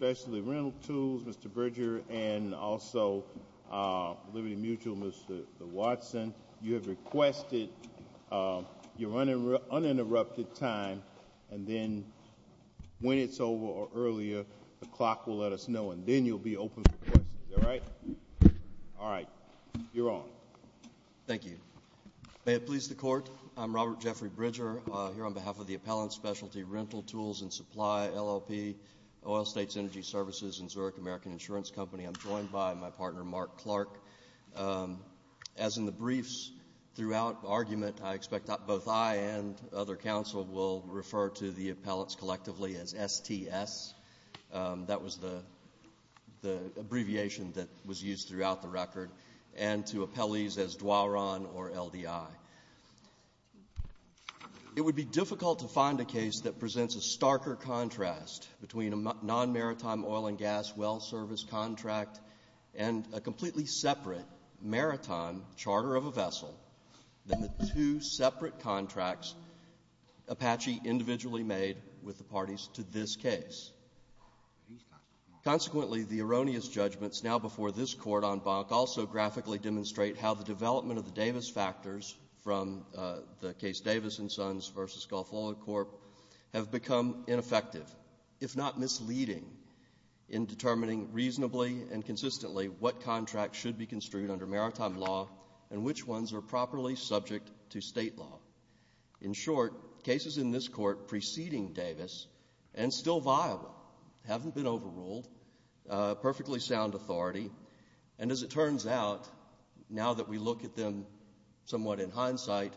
Mr. Bridger and also Liberty Mutual, Mr. Watson, you have requested your uninterrupted time and then when it's over or earlier, the clock will let us know and then you'll be open for questions, alright? Alright, you're on. Thank you. May it please the Court, I'm Robert Jeffrey Bridger, here on behalf of the Appellant Specialty Rntl Tools and Supply, LLP, Oil States Energy Services and Zurich American Insurance Company. I'm joined by my partner, Mark Clark. As in the briefs throughout argument, I expect both I and other counsel will refer to the appellants collectively as STS, that was the abbreviation that was used throughout the record, and to appellees as Doiron or LDI. It would be difficult to find a case that presents a starker contrast between a non-maritime oil and gas well service contract and a completely separate maritime charter of a vessel than the two separate contracts Apache individually made with the parties to this case. Consequently, the erroneous judgments now before this Court on Bonk also graphically demonstrate how the development of the Davis factors from the case Davis and Sons v. Gulf Oil Corp. have become ineffective, if not misleading, in determining reasonably and consistently what contracts should be construed under maritime law and which ones are properly subject to state law. In short, cases in this Court preceding Davis and still viable haven't been overruled, perfectly sound authority, and as it turns out, now that we look at them somewhat in hindsight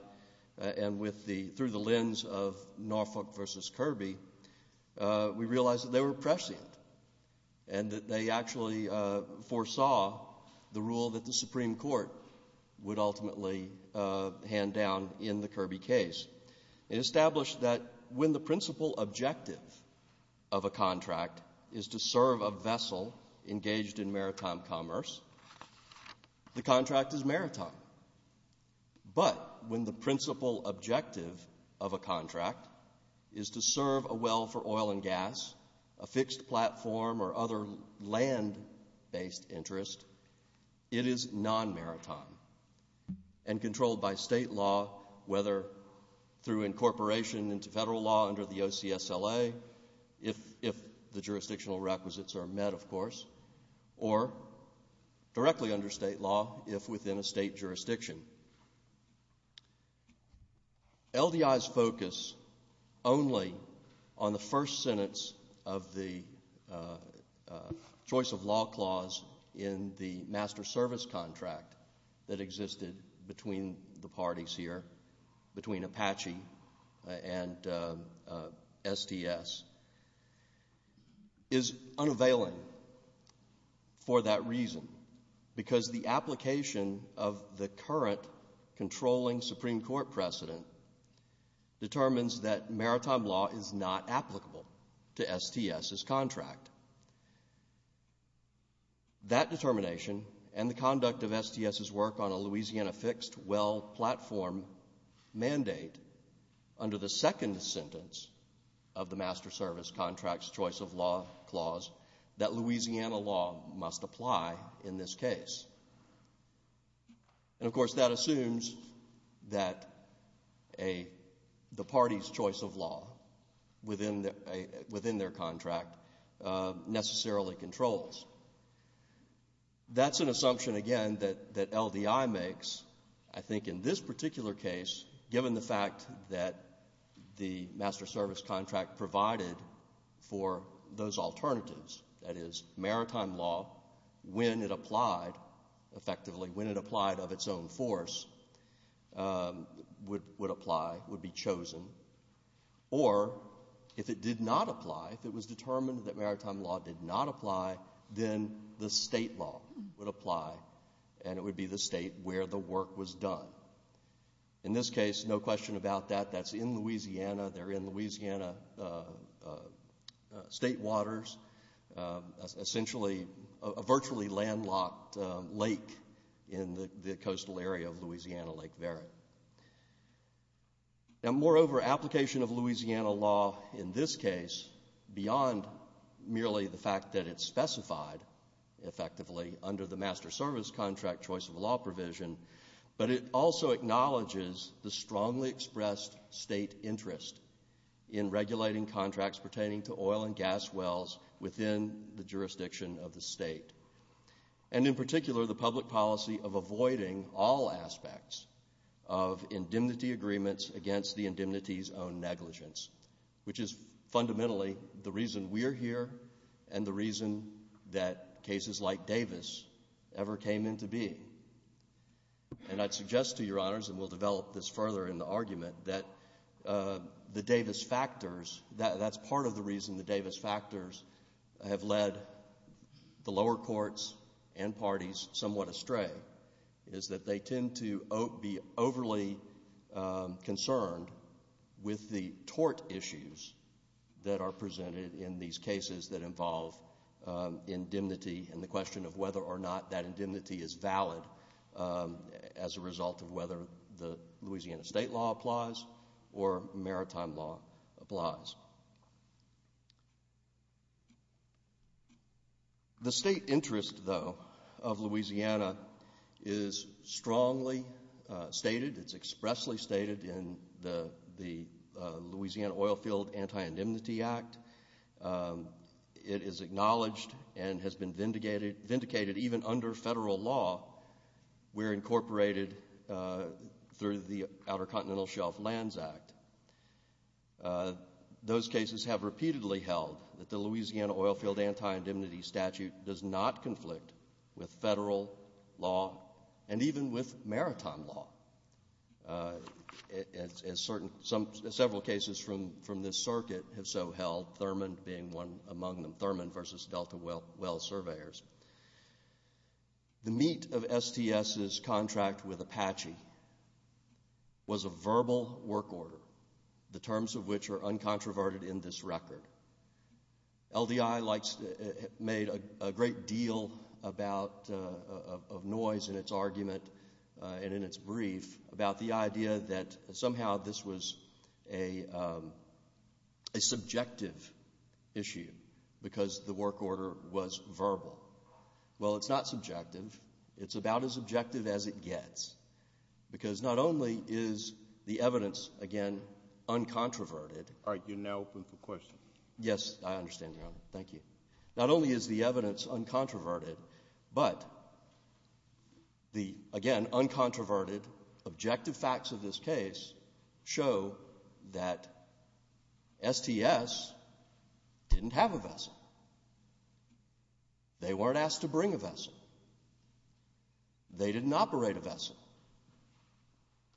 and through the lens of Norfolk v. Kirby, we realize that they were prescient and that they actually foresaw the rule that the Supreme Court would ultimately hand down in the Kirby case. It established that when the principal objective of a contract is to serve a vessel engaged in maritime commerce, the contract is maritime. But when the principal objective of a contract is to serve a well for oil and gas, a fixed platform, or other land-based interest, it is non-maritime and controlled by state law, whether through incorporation into federal law under the OCSLA, if the jurisdictional requisites are met, of course, or directly under state law if within a state jurisdiction. LDI's focus only on the first sentence of the choice of law clause in the master service contract that existed between the parties here, between Apache and STS, is unavailing for that reason. Because the application of the current controlling Supreme Court precedent determines that maritime law is not applicable to STS's contract. That determination and the conduct of STS's work on a Louisiana fixed well platform mandate under the second sentence of the master service contract's choice of law clause that Louisiana law must apply in this case. And, of course, that assumes that the party's choice of law within their contract necessarily controls. That's an assumption, again, that LDI makes, I think, in this particular case, given the fact that the master service contract provided for those alternatives, that is, maritime law, when it applied, effectively, when it applied of its own force, would apply, would be chosen. Or, if it did not apply, if it was determined that maritime law did not apply, then the state law would apply, and it would be the state where the work was done. In this case, no question about that, that's in Louisiana, they're in Louisiana state waters, essentially a virtually landlocked lake in the coastal area of Louisiana Lake Verde. Now, moreover, application of Louisiana law in this case, beyond merely the fact that it's specified, effectively, under the master service contract choice of law provision, but it also acknowledges the strongly expressed state interest in regulating contracts pertaining to oil and gas wells within the jurisdiction of the state. And in particular, the public policy of avoiding all aspects of indemnity agreements against the indemnity's own negligence, which is fundamentally the reason we're here and the reason that cases like Davis ever came into being. And I'd suggest to your honors, and we'll develop this further in the argument, that the Davis factors, that's part of the reason the Davis factors have led the lower courts and parties somewhat astray, is that they tend to be overly concerned with the tort issues that are presented in these cases that involve indemnity and the question of whether or not that indemnity is valid. As a result of whether the Louisiana state law applies or maritime law applies. The state interest, though, of Louisiana is strongly stated, it's expressly stated in the Louisiana Oil Field Anti-Indemnity Act. It is acknowledged and has been vindicated even under federal law where incorporated through the Outer Continental Shelf Lands Act. Those cases have repeatedly held that the Louisiana Oil Field Anti-Indemnity Statute does not conflict with federal law and even with maritime law. Several cases from this circuit have so held, Thurman being one among them, Thurman versus Delta Well Surveyors. The meat of STS's contract with Apache was a verbal work order, the terms of which are uncontroverted in this record. LDI made a great deal of noise in its argument and in its brief about the idea that somehow this was a subjective issue because the work order was verbal. Well, it's not subjective. It's about as objective as it gets because not only is the evidence, again, uncontroverted. All right, you're now open for questions. Yes, I understand, Your Honor. Thank you. Not only is the evidence uncontroverted, but the, again, uncontroverted objective facts of this case show that STS didn't have a vessel. They weren't asked to bring a vessel. They didn't operate a vessel.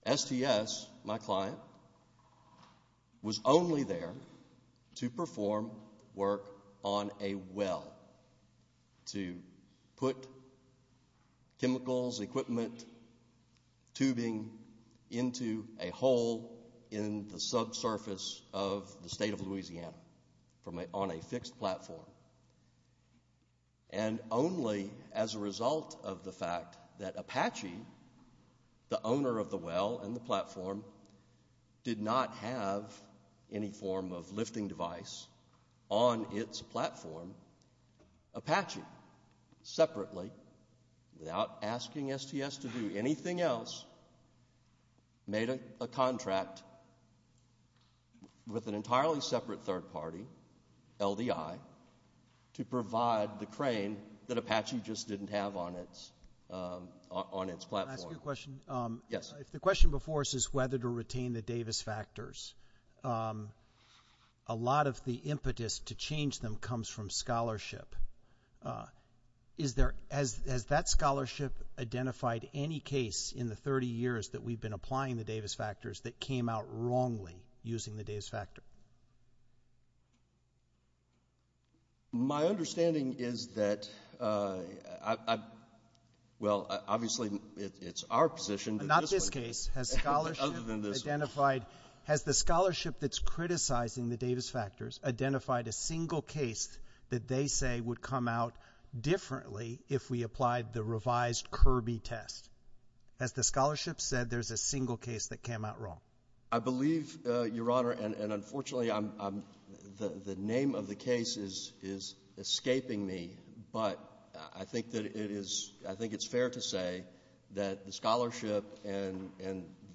STS, my client, was only there to perform work on a well, to put chemicals, equipment, tubing into a hole in the subsurface of the state of Louisiana on a fixed platform. And only as a result of the fact that Apache, the owner of the well and the platform, did not have any form of lifting device on its platform, Apache, separately, without asking STS to do anything else, made a contract with an entirely separate third party, LDI, to provide the crane that Apache just didn't have on its platform. Can I ask you a question? Yes. If the question before us is whether to retain the Davis factors, a lot of the impetus to change them comes from scholarship. Is there, has that scholarship identified any case in the 30 years that we've been applying the Davis factors that came out wrongly using the Davis factor? My understanding is that, well, obviously, it's our position. In this case, has scholarship identified, has the scholarship that's criticizing the Davis factors identified a single case that they say would come out differently if we applied the revised Kirby test? Has the scholarship said there's a single case that came out wrong? I believe, Your Honor, and unfortunately, the name of the case is escaping me, but I think that it is, I think it's fair to say that the scholarship and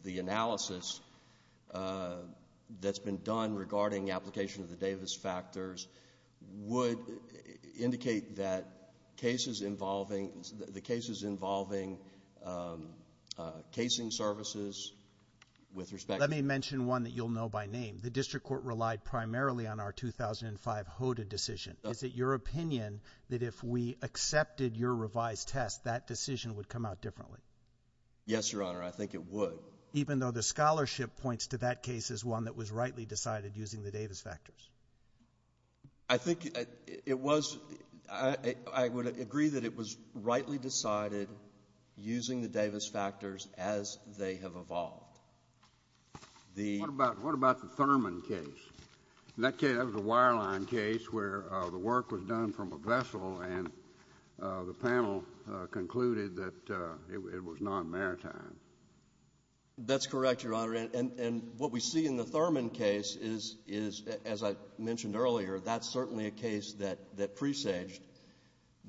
the analysis that's been done regarding application of the Davis factors would indicate that cases involving, um, uh, casing services with respect. Let me mention one that you'll know by name. The district court relied primarily on our 2005 Hoda decision. Is it your opinion that if we accepted your revised test, that decision would come out differently? Yes, Your Honor. I think it would. Even though the scholarship points to that case as one that was rightly decided using the Davis factors. I think it was, I would agree that it was rightly decided using the Davis factors as they have evolved. What about the Thurman case? In that case, that was a wireline case where the work was done from a vessel and the panel concluded that it was non-maritime. That's correct, Your Honor. And what we see in the Thurman case is, as I mentioned earlier, that's certainly a case that presaged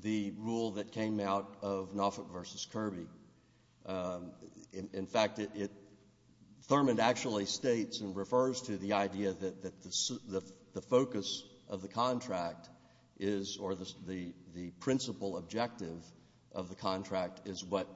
the rule that came out of Noffitt v. Kirby. In fact, Thurman actually states and refers to the idea that the focus of the contract is, or the principal objective of the contract is what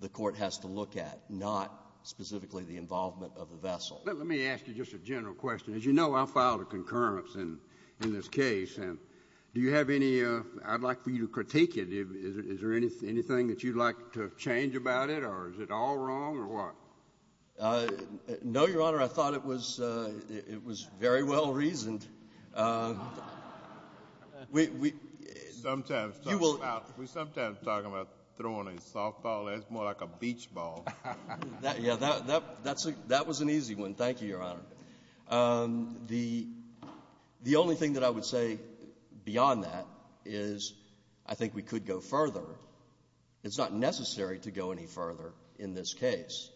the court has to look at, not specifically the involvement of the vessel. Let me ask you just a general question. As you know, I filed a concurrence in this case. Do you have any, I'd like for you to critique it. Is there anything that you'd like to change about it or is it all wrong or what? No, Your Honor. I thought it was very well reasoned. We sometimes talk about throwing a softball. That's more like a beach ball. Yeah, that was an easy one. Thank you, Your Honor. The only thing that I would say beyond that is I think we could go further. It's not necessary to go any further in this case,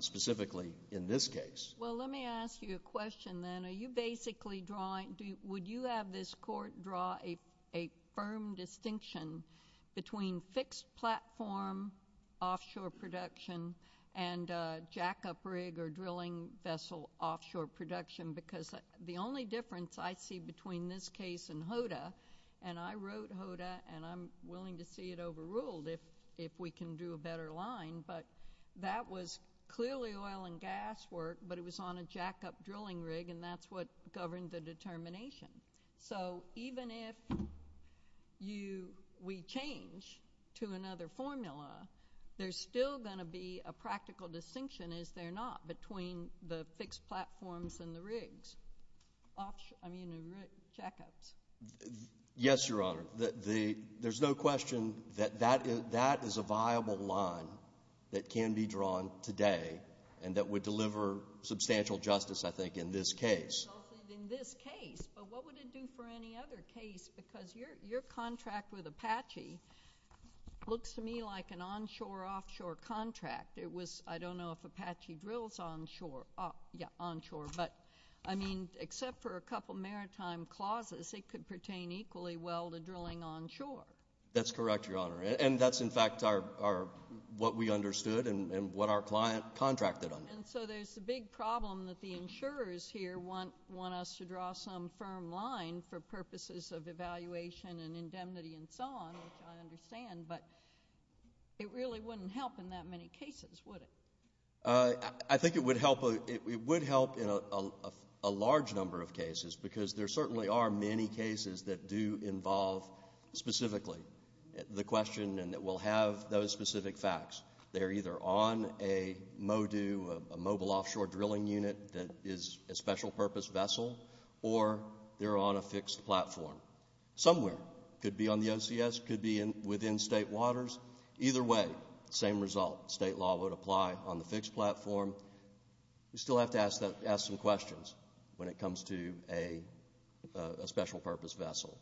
specifically in this case. Well, let me ask you a question then. Are you basically drawing, would you have this court draw a firm distinction between fixed platform offshore production and jackup rig or drilling vessel offshore production? Because the only difference I see between this case and HODA, and I wrote HODA and I'm willing to see it overruled if we can do a better line. But that was clearly oil and gas work, but it was on a jackup drilling rig and that's what governed the determination. So even if we change to another formula, there's still going to be a practical distinction, is there not, between the fixed platforms and the rigs, I mean jackups? Yes, Your Honor. There's no question that that is a viable line that can be drawn today and that would deliver substantial justice, I think, in this case. In this case, but what would it do for any other case? Because your contract with Apache looks to me like an onshore-offshore contract. I don't know if Apache drills onshore, but I mean except for a couple maritime clauses, it could pertain equally well to drilling onshore. That's correct, Your Honor, and that's in fact what we understood and what our client contracted under. And so there's a big problem that the insurers here want us to draw some firm line for purposes of evaluation and indemnity and so on, which I understand, but it really wouldn't help in that many cases, would it? I think it would help in a large number of cases because there certainly are many cases that do involve specifically the question and that will have those specific facts. They're either on a MODU, a mobile offshore drilling unit that is a special purpose vessel, or they're on a fixed platform somewhere. It could be on the OCS. It could be within state waters. Either way, same result. State law would apply on the fixed platform. You still have to ask some questions when it comes to a special purpose vessel.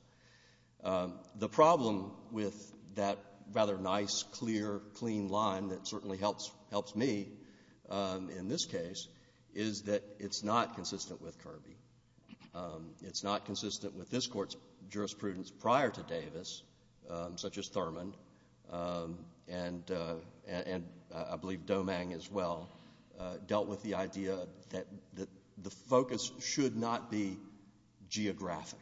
The problem with that rather nice, clear, clean line that certainly helps me in this case is that it's not consistent with Kirby. It's not consistent with this Court's jurisprudence prior to Davis, such as Thurmond, and I believe Domang as well, dealt with the idea that the focus should not be geographic,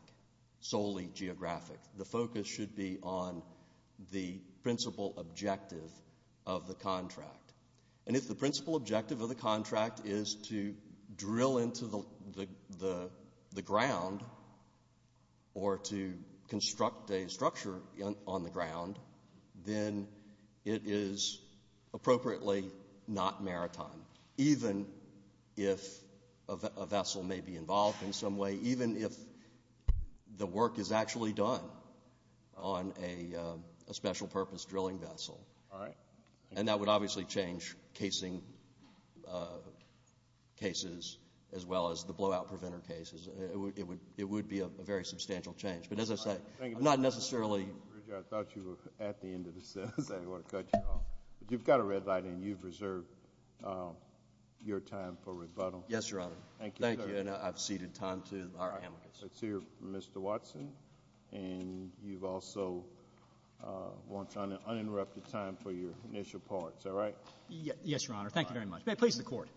solely geographic. The focus should be on the principal objective of the contract. If the principal objective of the contract is to drill into the ground or to construct a structure on the ground, then it is appropriately not maritime, even if a vessel may be involved in some way, even if the work is actually done on a special purpose drilling vessel. And that would obviously change casing cases as well as the blowout preventer cases. It would be a very substantial change. But as I say, I'm not necessarily... I thought you were at the end of the sentence. I didn't want to cut you off. You've got a red light, and you've reserved your time for rebuttal. Yes, Your Honor. Thank you. And I've ceded time to our amicus. Let's hear Mr. Watson. And you've also wanted uninterrupted time for your initial part. Is that right? Yes, Your Honor. Thank you very much. May it please the Court.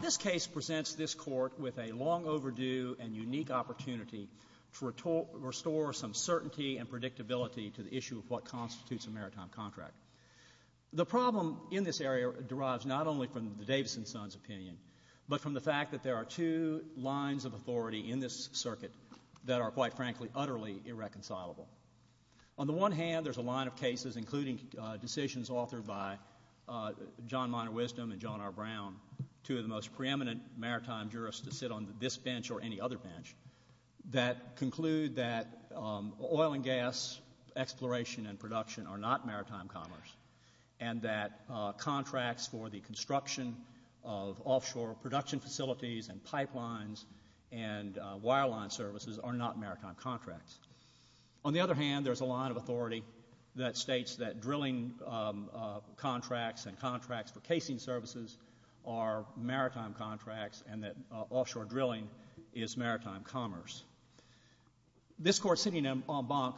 This case presents this Court with a long overdue and unique opportunity to restore some certainty and predictability to the issue of what constitutes a maritime contract. The problem in this area derives not only from the Davison son's opinion, but from the fact that there are two lines of authority in this circuit that are, quite frankly, utterly irreconcilable. On the one hand, there's a line of cases, including decisions authored by John Minor Wisdom and John R. Brown, two of the most preeminent maritime jurists to sit on this bench or any other bench, that conclude that oil and gas exploration and production are not maritime commerce and that contracts for the construction of offshore production facilities and pipelines and wireline services are not maritime contracts. On the other hand, there's a line of authority that states that drilling contracts and contracts for casing services are maritime contracts and that offshore drilling is maritime commerce. This Court sitting en banc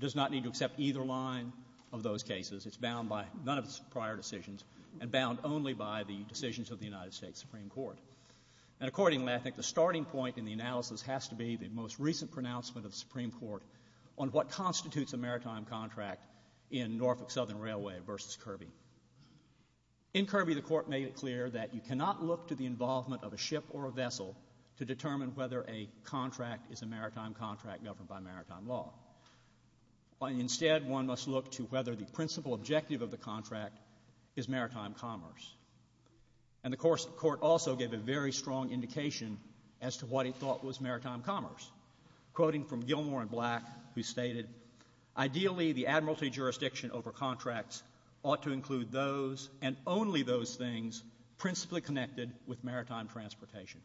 does not need to accept either line of those cases. It's bound by none of its prior decisions and bound only by the decisions of the United States Supreme Court. And accordingly, I think the starting point in the analysis has to be the most recent pronouncement of the Supreme Court on what constitutes a maritime contract in Norfolk Southern Railway v. Kirby. In Kirby, the Court made it clear that you cannot look to the involvement of a ship or a vessel to determine whether a contract is a maritime contract governed by maritime law. Instead, one must look to whether the principal objective of the contract is maritime commerce. And the Court also gave a very strong indication as to what it thought was maritime commerce, quoting from Gilmore and Black, who stated, ideally the admiralty jurisdiction over contracts ought to include those and only those things principally connected with maritime transportation.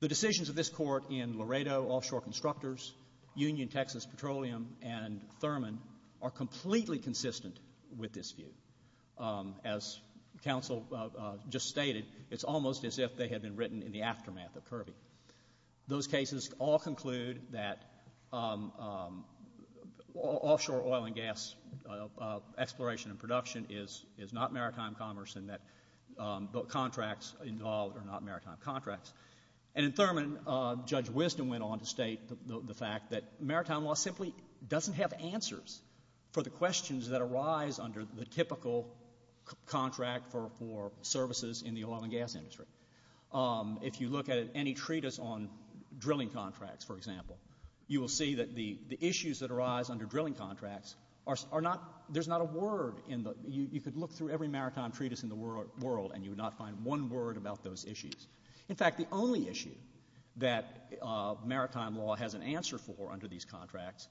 The decisions of this Court in Laredo Offshore Constructors, Union Texas Petroleum, and Thurman are completely consistent with this view. As counsel just stated, it's almost as if they had been written in the aftermath of Kirby. Those cases all conclude that offshore oil and gas exploration and production is not maritime commerce and that contracts involved are not maritime contracts. And in Thurman, Judge Wisdom went on to state the fact that maritime law simply doesn't have answers for the questions that arise under the typical contract for services in the oil and gas industry. If you look at any treatise on drilling contracts, for example, you will see that the issues that arise under drilling contracts are not, there's not a word in the, you could look through every maritime treatise in the world and you would not find one word about those issues. In fact, the only issue that maritime law has an answer for under these contracts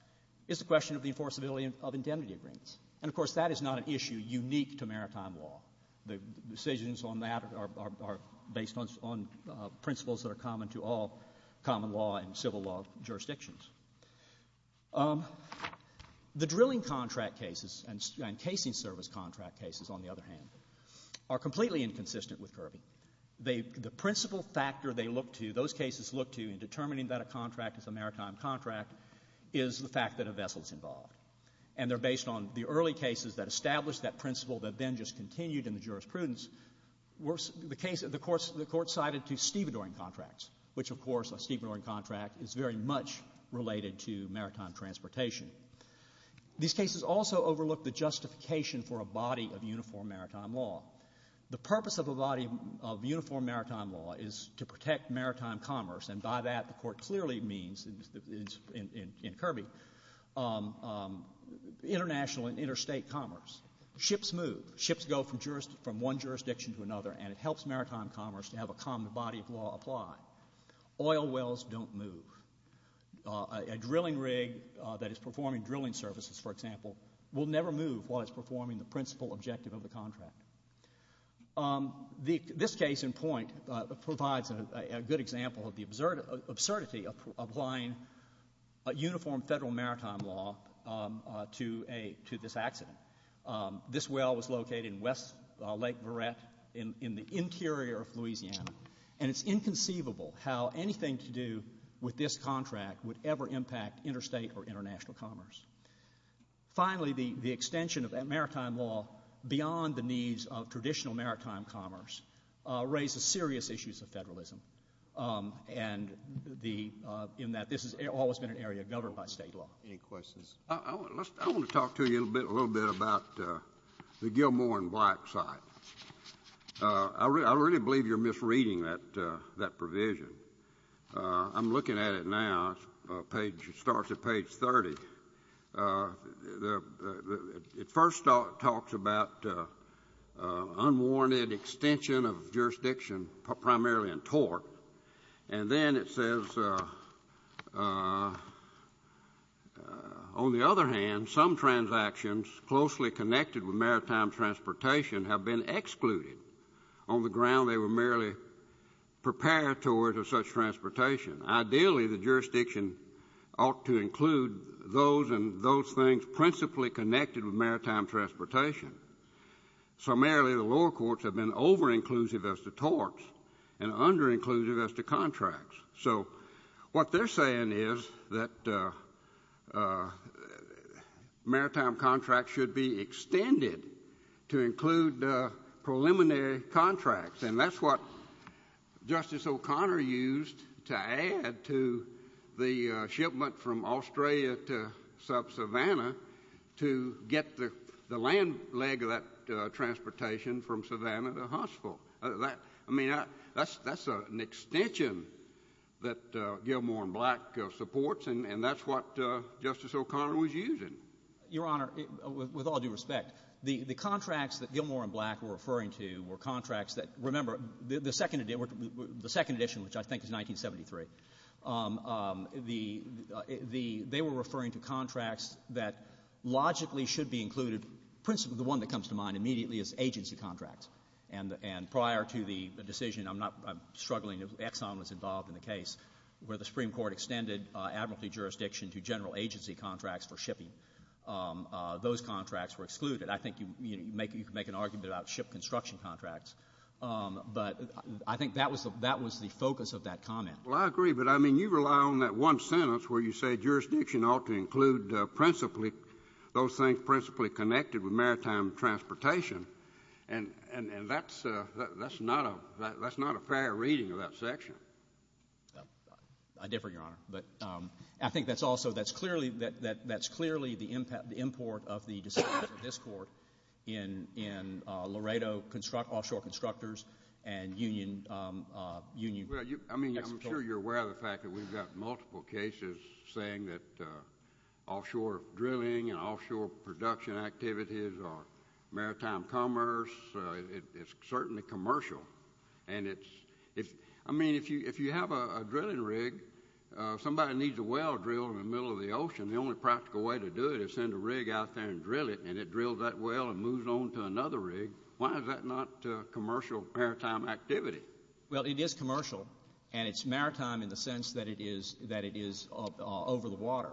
is the question of the enforceability of indemnity agreements. And, of course, that is not an issue unique to maritime law. The decisions on that are based on principles that are common to all common law and civil law jurisdictions. The drilling contract cases and casing service contract cases, on the other hand, are completely inconsistent with Kirby. The principal factor they look to, those cases look to, in determining that a contract is a maritime contract is the fact that a vessel is involved. And they're based on the early cases that established that principle that then just continued in the jurisprudence. The court cited two stevedoring contracts, which, of course, a stevedoring contract is very much related to maritime transportation. These cases also overlook the justification for a body of uniform maritime law. The purpose of a body of uniform maritime law is to protect maritime commerce, and by that the court clearly means, in Kirby, international and interstate commerce. Ships move. Ships go from one jurisdiction to another, and it helps maritime commerce to have a common body of law apply. Oil wells don't move. A drilling rig that is performing drilling services, for example, will never move while it's performing the principal objective of the contract. This case in point provides a good example of the absurdity of applying uniform federal maritime law to this accident. This well was located in Lake Verret in the interior of Louisiana, and it's inconceivable how anything to do with this contract would ever impact interstate or international commerce. Finally, the extension of maritime law beyond the needs of traditional maritime commerce raises serious issues of federalism in that this has always been an area governed by state law. Any questions? I want to talk to you a little bit about the Gilmore and Black site. I really believe you're misreading that provision. I'm looking at it now. It starts at page 30. It first talks about unwarranted extension of jurisdiction primarily in tort, and then it says, on the other hand, some transactions closely connected with maritime transportation have been excluded. On the ground, they were merely preparatories of such transportation. Ideally, the jurisdiction ought to include those and those things principally connected with maritime transportation. So merely the lower courts have been over-inclusive as to torts and under-inclusive as to contracts. So what they're saying is that maritime contracts should be extended to include preliminary contracts, and that's what Justice O'Connor used to add to the shipment from Australia to sub-Savannah to get the land leg of that transportation from Savannah to Huntsville. I mean, that's an extension that Gilmore and Black supports, and that's what Justice O'Connor was using. Your Honor, with all due respect, the contracts that Gilmore and Black were referring to were contracts that, remember, the second edition, which I think is 1973, they were referring to contracts that logically should be included. The one that comes to mind immediately is agency contracts, and prior to the decision, I'm struggling, Exxon was involved in the case where the Supreme Court extended admiralty jurisdiction to general agency contracts for shipping. Those contracts were excluded. I think you could make an argument about ship construction contracts, but I think that was the focus of that comment. Well, I agree, but, I mean, you rely on that one sentence where you say jurisdiction ought to include principally those things principally connected with maritime transportation, and that's not a fair reading of that section. I differ, Your Honor, but I think that's also, that's clearly the import of the decisions of this court in Laredo Offshore Constructors and Union. I mean, I'm sure you're aware of the fact that we've got multiple cases saying that offshore drilling and offshore production activities are maritime commerce. It's certainly commercial, and it's, I mean, if you have a drilling rig, somebody needs a well drilled in the middle of the ocean, the only practical way to do it is send a rig out there and drill it, and it drills that well and moves on to another rig. Why is that not commercial maritime activity? Well, it is commercial, and it's maritime in the sense that it is over the water.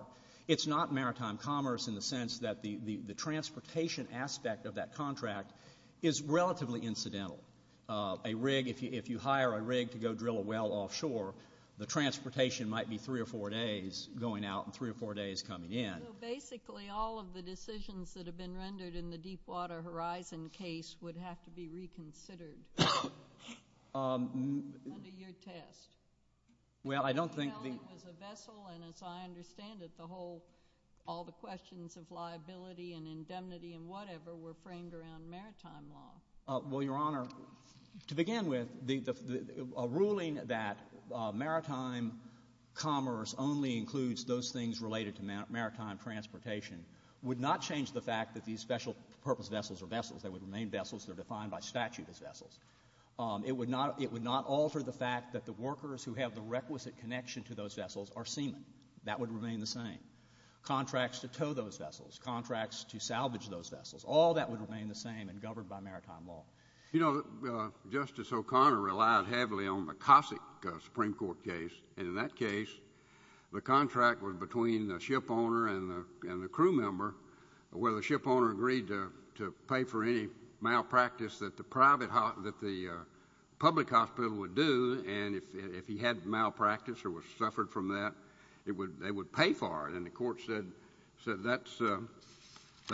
It's not maritime commerce in the sense that the transportation aspect of that contract is relatively incidental. A rig, if you hire a rig to go drill a well offshore, the transportation might be three or four days going out and three or four days coming in. So basically all of the decisions that have been rendered in the Deepwater Horizon case would have to be reconsidered under your test. Well, I don't think the— It was a vessel, and as I understand it, the whole, all the questions of liability and indemnity and whatever were framed around maritime law. Well, Your Honor, to begin with, a ruling that maritime commerce only includes those things related to maritime transportation would not change the fact that these special purpose vessels are vessels. They would remain vessels. They're defined by statute as vessels. It would not alter the fact that the workers who have the requisite connection to those vessels are seamen. That would remain the same. Contracts to tow those vessels, contracts to salvage those vessels, all that would remain the same and governed by maritime law. You know, Justice O'Connor relied heavily on the Cossack Supreme Court case, and in that case the contract was between the shipowner and the crew member where the shipowner agreed to pay for any malpractice that the public hospital would do, and if he had malpractice or suffered from that, they would pay for it, and the court said that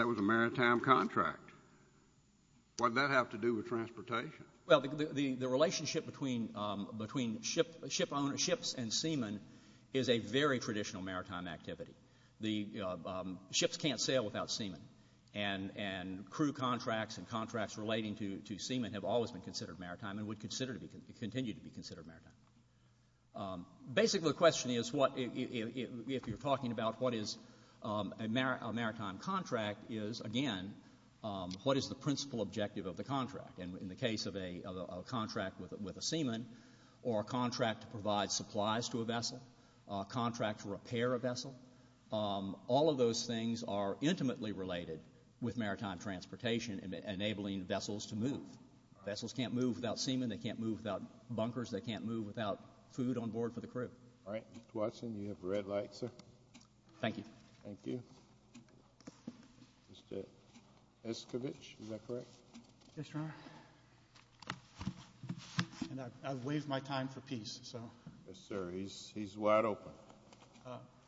was a maritime contract. What did that have to do with transportation? Well, the relationship between ships and seamen is a very traditional maritime activity. Ships can't sail without seamen, and crew contracts and contracts relating to seamen have always been considered maritime and would continue to be considered maritime. Basically, the question is, if you're talking about what is a maritime contract, is, again, what is the principal objective of the contract? In the case of a contract with a seaman or a contract to provide supplies to a vessel, a contract to repair a vessel, all of those things are intimately related with maritime transportation and enabling vessels to move. Vessels can't move without seamen. They can't move without bunkers. They can't move without food on board for the crew. All right. Mr. Watson, you have red light, sir. Thank you. Thank you. Mr. Escovitch, is that correct? Yes, Your Honor. And I've waived my time for peace, so. Yes, sir. He's wide open.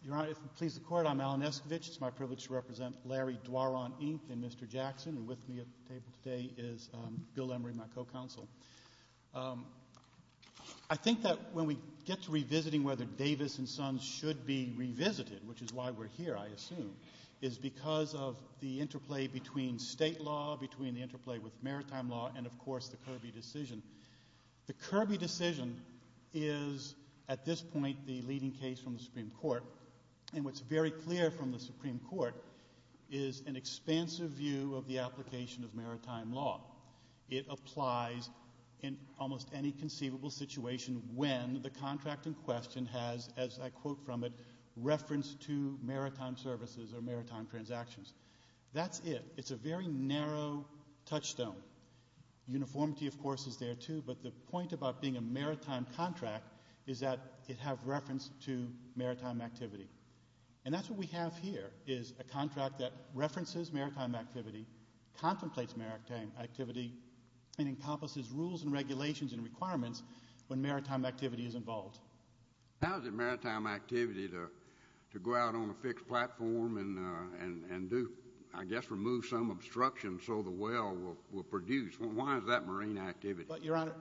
Your Honor, if it pleases the Court, I'm Alan Escovitch. It's my privilege to represent Larry Dwarron, Inc., and Mr. Jackson, and with me at the table today is Bill Emery, my co-counsel. I think that when we get to revisiting whether Davis and Sons should be revisited, which is why we're here, I assume, is because of the interplay between state law, between the interplay with maritime law, and, of course, the Kirby decision. The Kirby decision is, at this point, the leading case from the Supreme Court, and what's very clear from the Supreme Court is an expansive view of the application of maritime law. It applies in almost any conceivable situation when the contract in question has, as I quote from it, reference to maritime services or maritime transactions. That's it. It's a very narrow touchstone. Uniformity, of course, is there, too, but the point about being a maritime contract is that it has reference to maritime activity, and that's what we have here is a contract that references maritime activity, contemplates maritime activity, and encompasses rules and regulations and requirements when maritime activity is involved. How is it maritime activity to go out on a fixed platform and do, I guess, remove some obstruction so the whale will produce? Why is that marine activity? Your Honor,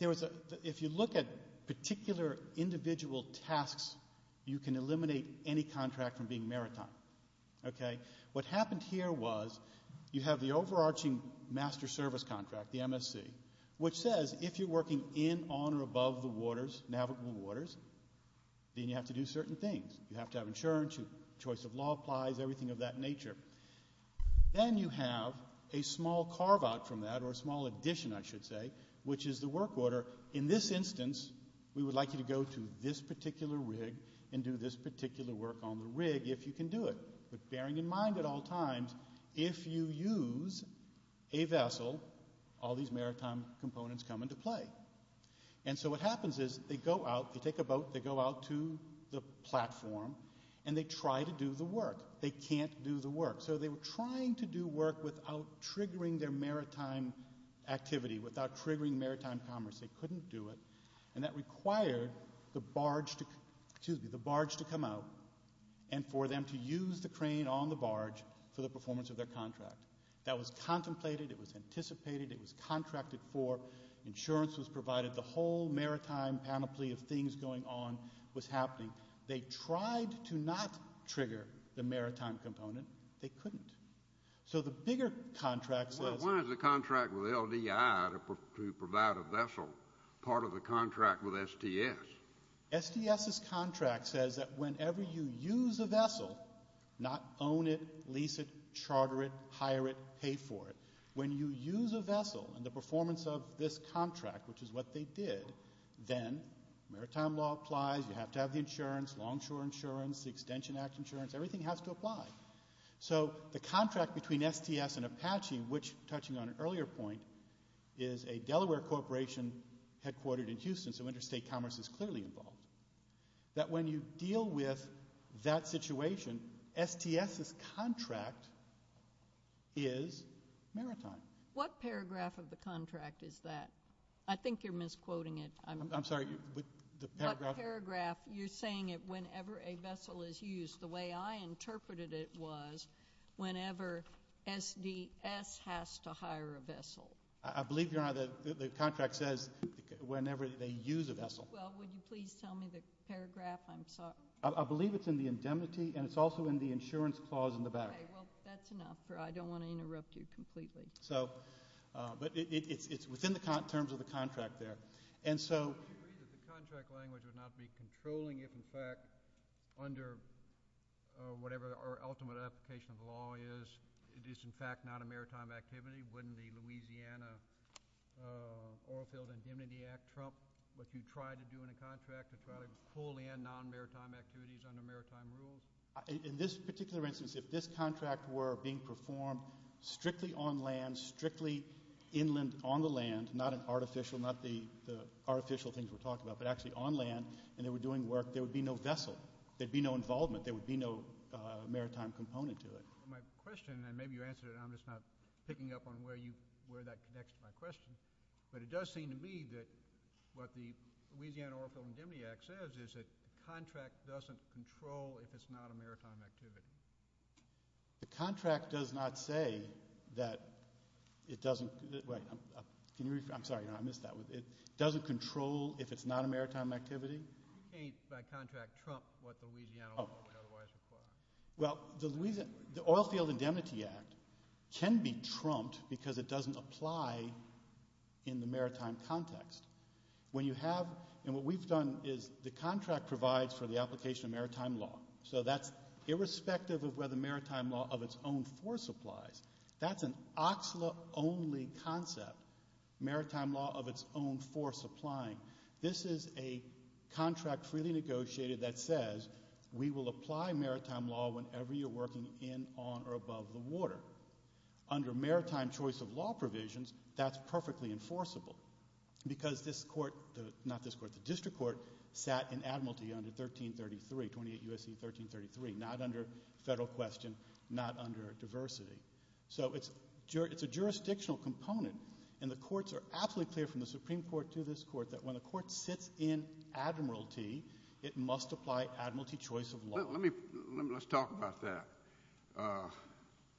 if you look at particular individual tasks, you can eliminate any contract from being maritime. What happened here was you have the overarching master service contract, the MSC, which says if you're working in, on, or above the waters, navigable waters, then you have to do certain things. You have to have insurance. Your choice of law applies, everything of that nature. Then you have a small carve-out from that, or a small addition, I should say, which is the work order. In this instance, we would like you to go to this particular rig and do this particular work on the rig if you can do it, but bearing in mind at all times, if you use a vessel, all these maritime components come into play. And so what happens is they go out, they take a boat, they go out to the platform, and they try to do the work. They can't do the work. So they were trying to do work without triggering their maritime activity, without triggering maritime commerce. They couldn't do it, and that required the barge to come out and for them to use the crane on the barge for the performance of their contract. That was contemplated. It was anticipated. It was contracted for. Insurance was provided. The whole maritime panoply of things going on was happening. They tried to not trigger the maritime component. They couldn't. So the bigger contract says— Why is the contract with LDI to provide a vessel part of the contract with STS? STS's contract says that whenever you use a vessel, not own it, lease it, charter it, hire it, pay for it, when you use a vessel and the performance of this contract, which is what they did, then maritime law applies. You have to have the insurance, longshore insurance, the Extension Act insurance. Everything has to apply. So the contract between STS and Apache, which, touching on an earlier point, is a Delaware corporation headquartered in Houston, so interstate commerce is clearly involved, that when you deal with that situation, STS's contract is maritime. What paragraph of the contract is that? I think you're misquoting it. I'm sorry. What paragraph? You're saying it whenever a vessel is used. The way I interpreted it was whenever SDS has to hire a vessel. I believe, Your Honor, the contract says whenever they use a vessel. Well, would you please tell me the paragraph? I'm sorry. I believe it's in the indemnity, and it's also in the insurance clause in the back. Okay. Well, that's enough. I don't want to interrupt you completely. But it's within the terms of the contract there. Would you agree that the contract language would not be controlling if, in fact, under whatever our ultimate application of the law is, it is, in fact, not a maritime activity? Wouldn't the Louisiana Oilfield Indemnity Act trump what you try to do in a contract to try to pull in non-maritime activities under maritime rules? In this particular instance, if this contract were being performed strictly on land, strictly inland on the land, not the artificial things we're talking about, but actually on land and they were doing work, there would be no vessel. There would be no involvement. There would be no maritime component to it. My question, and maybe you answered it, and I'm just not picking up on where that connects to my question, but it does seem to me that what the Louisiana Oilfield Indemnity Act says is that the contract doesn't control if it's not a maritime activity. The contract does not say that it doesn't control if it's not a maritime activity? It ain't by contract trump what the Louisiana Oilfield Indemnity Act otherwise requires. Well, the Louisiana Oilfield Indemnity Act can be trumped because it doesn't apply in the maritime context. When you have, and what we've done is the contract provides for the application of maritime law. So that's irrespective of whether maritime law of its own force applies. That's an OCSLA-only concept, maritime law of its own force applying. This is a contract freely negotiated that says we will apply maritime law whenever you're working in, on, or above the water. Under maritime choice of law provisions, that's perfectly enforceable because the district court sat in admiralty under 1333, 28 U.S.C. 1333, not under federal question, not under diversity. So it's a jurisdictional component, and the courts are absolutely clear from the Supreme Court to this court that when a court sits in admiralty, it must apply admiralty choice of law. Let's talk about that.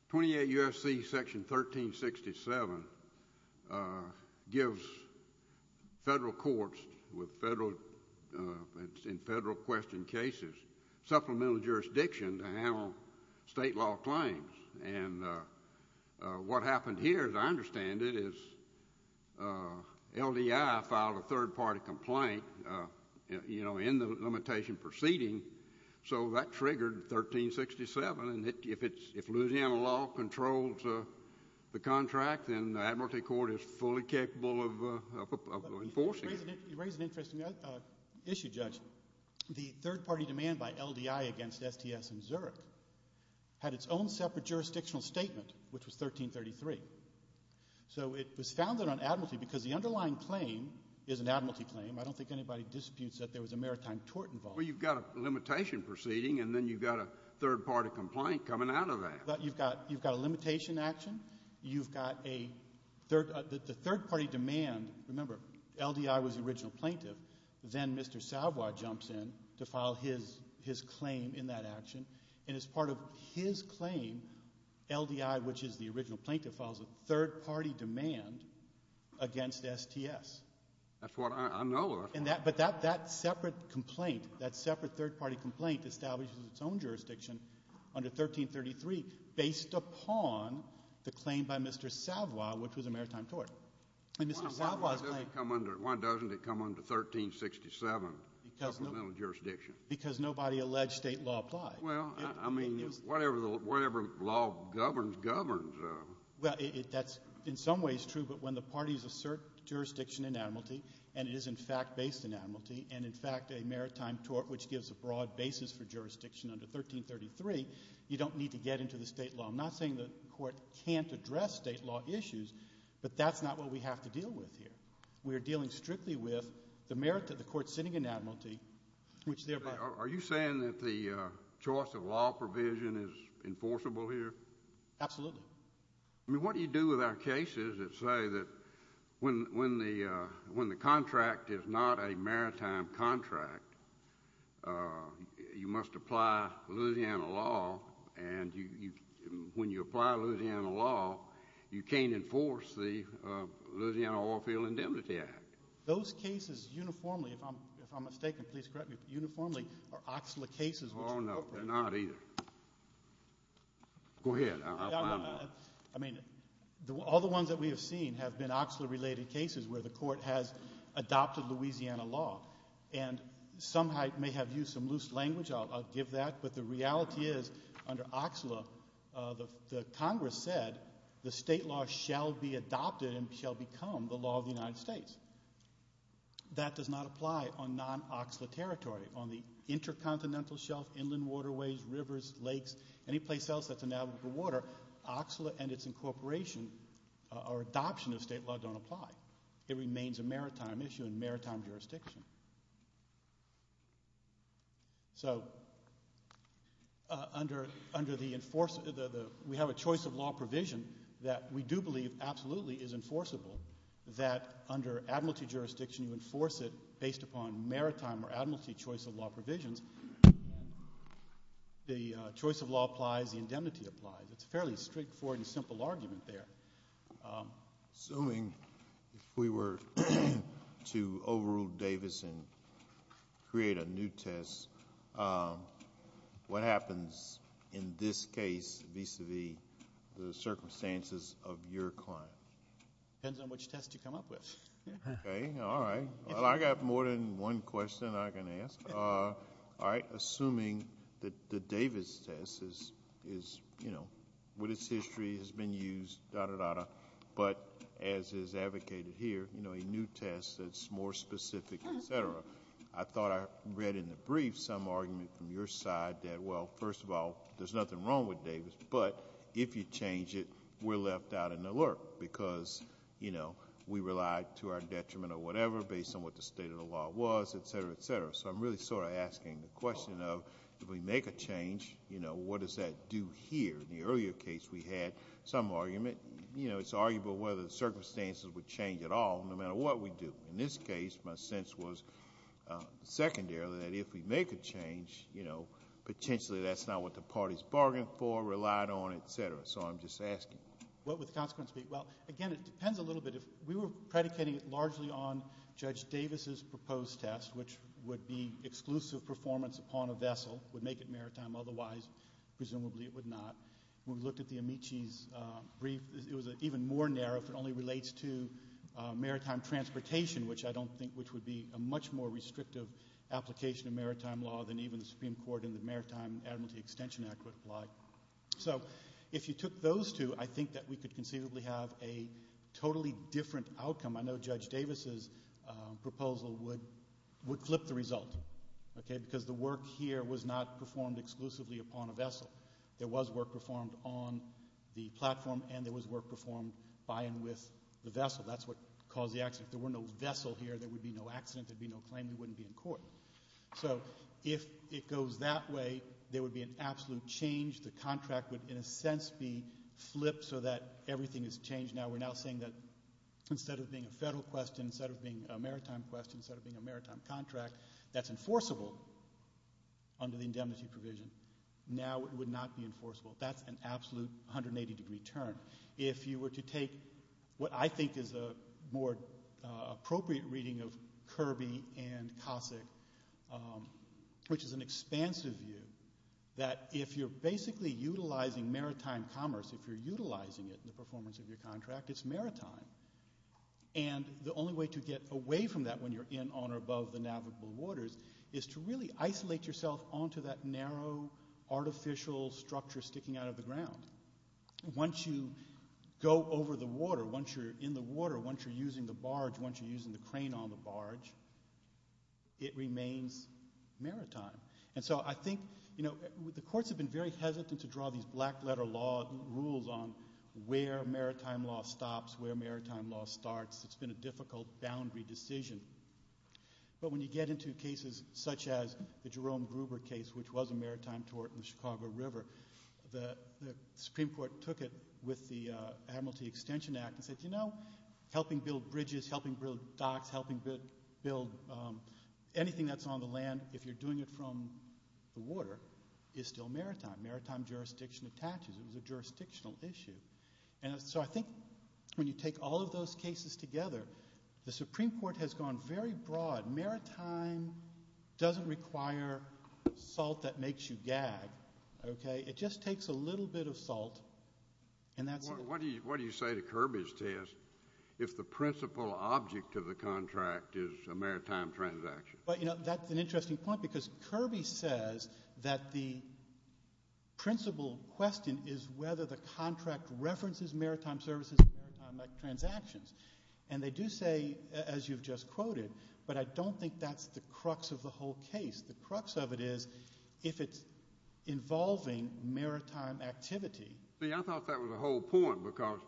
28 U.S.C. Section 1367 gives federal courts in federal question cases supplemental jurisdiction to handle state law claims. What happened here, as I understand it, is LDI filed a third-party complaint in the limitation proceeding, so that triggered 1367. If Louisiana law controls the contract, then the admiralty court is fully capable of enforcing it. You raise an interesting issue, Judge. The third-party demand by LDI against STS and Zurich had its own separate jurisdictional statement, which was 1333. So it was founded on admiralty because the underlying claim is an admiralty claim. I don't think anybody disputes that there was a maritime tort involved. Well, you've got a limitation proceeding, and then you've got a third-party complaint coming out of that. You've got a limitation action. You've got a third-party demand. Remember, LDI was the original plaintiff. Then Mr. Savoy jumps in to file his claim in that action, and as part of his claim, LDI, which is the original plaintiff, files a third-party demand against STS. That's what I know of. But that separate complaint, that separate third-party complaint, establishes its own jurisdiction under 1333 based upon the claim by Mr. Savoy, which was a maritime tort. Why doesn't it come under 1367 supplemental jurisdiction? Because nobody alleged state law applied. Well, I mean, whatever law governs, governs. That's in some ways true, but when the parties assert jurisdiction in admiralty and it is in fact based in admiralty and in fact a maritime tort which gives a broad basis for jurisdiction under 1333, you don't need to get into the state law. I'm not saying the court can't address state law issues, but that's not what we have to deal with here. We are dealing strictly with the merit of the court sitting in admiralty, which thereby... Are you saying that the choice of law provision is enforceable here? Absolutely. I mean, what do you do with our cases that say that when the contract is not a maritime contract, you must apply Louisiana law, and when you apply Louisiana law, you can't enforce the Louisiana Oilfield Indemnity Act. Those cases uniformly, if I'm mistaken, please correct me, uniformly are OCSLA cases which... Oh, no, they're not either. Go ahead. I mean, all the ones that we have seen have been OCSLA-related cases where the court has adopted Louisiana law, and some might have used some loose language. I'll give that, but the reality is under OCSLA, the Congress said the state law shall be adopted and shall become the law of the United States. That does not apply on non-OCSLA territory, on the intercontinental shelf, inland waterways, rivers, lakes, any place else that's an avenue for water. OCSLA and its incorporation or adoption of state law don't apply. It remains a maritime issue in maritime jurisdiction. So under the... We have a choice of law provision that we do believe absolutely is enforceable, that under admiralty jurisdiction, you enforce it based upon maritime or admiralty choice of law provisions. The choice of law applies, the indemnity applies. It's a fairly straightforward and simple argument there. Assuming if we were to overrule Davis and create a new test, what happens in this case vis-à-vis the circumstances of your client? Depends on which test you come up with. Okay, all right. I've got more than one question I can ask. Assuming that the Davis test, with its history, has been used, but as is advocated here, a new test that's more specific, et cetera, I thought I read in the brief some argument from your side that, well, first of all, there's nothing wrong with Davis, but if you change it, we're left out in the lurch because we relied to our detriment or whatever, based on what the state of the law was, et cetera, et cetera. I'm really sort of asking the question of, if we make a change, what does that do here? In the earlier case, we had some argument. It's arguable whether the circumstances would change at all, no matter what we do. In this case, my sense was, secondarily, that if we make a change, potentially that's not what the parties bargained for, relied on, et cetera. I'm just asking. What would the consequence be? Well, again, it depends a little bit. We were predicating it largely on Judge Davis' proposed test, which would be exclusive performance upon a vessel, would make it maritime. Otherwise, presumably it would not. When we looked at the Amici's brief, it was even more narrow, if it only relates to maritime transportation, which I don't think would be a much more restrictive application of maritime law than even the Supreme Court in the Maritime Admiralty Extension Act would apply. So if you took those two, I think that we could conceivably have a totally different outcome. I know Judge Davis' proposal would flip the result, because the work here was not performed exclusively upon a vessel. There was work performed on the platform, and there was work performed by and with the vessel. That's what caused the accident. If there were no vessel here, there would be no accident. There would be no claim. We wouldn't be in court. So if it goes that way, there would be an absolute change. The contract would, in a sense, be flipped so that everything is changed. Now we're now saying that instead of being a federal question, instead of being a maritime question, instead of being a maritime contract, that's enforceable under the indemnity provision. Now it would not be enforceable. That's an absolute 180-degree turn. If you were to take what I think is a more appropriate reading of Kirby and Cossack, which is an expansive view, that if you're basically utilizing maritime commerce, if you're utilizing it in the performance of your contract, it's maritime. And the only way to get away from that when you're in, on, or above the navigable waters is to really isolate yourself onto that narrow, artificial structure sticking out of the ground. Once you go over the water, once you're in the water, once you're using the barge, once you're using the crane on the barge, it remains maritime. And so I think the courts have been very hesitant to draw these black-letter rules on where maritime law stops, where maritime law starts. It's been a difficult boundary decision. But when you get into cases such as the Jerome Gruber case, which was a maritime tort in the Chicago River, the Supreme Court took it with the Admiralty Extension Act and said, you know, helping build bridges, helping build docks, helping build anything that's on the land, if you're doing it from the water, is still maritime. Maritime jurisdiction attaches. It was a jurisdictional issue. And so I think when you take all of those cases together, the Supreme Court has gone very broad. Maritime doesn't require salt that makes you gag. Okay? It just takes a little bit of salt and that's it. What do you say to Kirby's test if the principal object of the contract is a maritime transaction? Well, you know, that's an interesting point because Kirby says that the principal question is whether the contract references maritime services and maritime transactions. And they do say, as you've just quoted, but I don't think that's the crux of the whole case. The crux of it is if it's involving maritime activity. See, I thought that was the whole point because,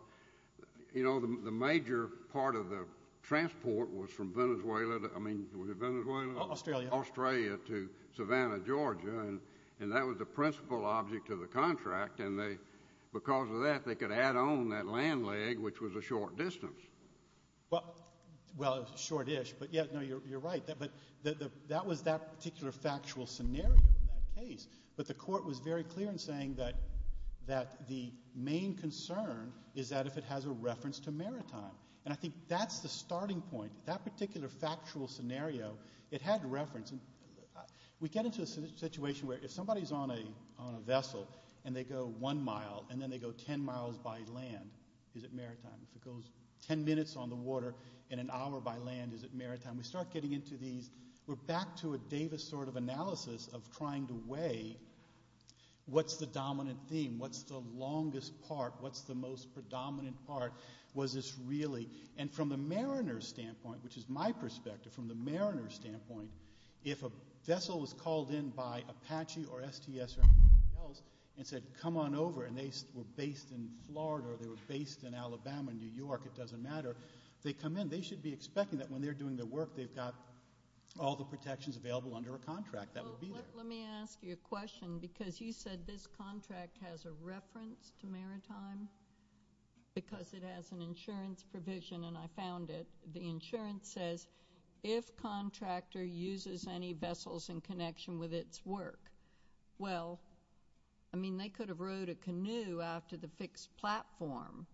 you know, the major part of the transport was from Venezuela to, I mean, was it Venezuela? Australia. Australia to Savannah, Georgia. And that was the principal object of the contract. And because of that, they could add on that land leg, which was a short distance. Well, it was shortish, but, yeah, no, you're right. But that was that particular factual scenario in that case. But the court was very clear in saying that the main concern is that if it has a reference to maritime. And I think that's the starting point. That particular factual scenario, it had reference. We get into a situation where if somebody's on a vessel and they go one mile and then they go ten miles by land, is it maritime? If it goes ten minutes on the water and an hour by land, is it maritime? We start getting into these. We're back to a Davis sort of analysis of trying to weigh what's the dominant theme? What's the longest part? What's the most predominant part? Was this really? And from the mariner's standpoint, which is my perspective, from the mariner's standpoint, if a vessel was called in by Apache or STS or anybody else and said, come on over, and they were based in Florida or they were based in Alabama, New York, it doesn't matter, they come in. They should be expecting that when they're doing their work, they've got all the protections available under a contract that will be there. Let me ask you a question because you said this contract has a reference to maritime because it has an insurance provision, and I found it. The insurance says if contractor uses any vessels in connection with its work, well, I mean, they could have rowed a canoe out to the fixed platform,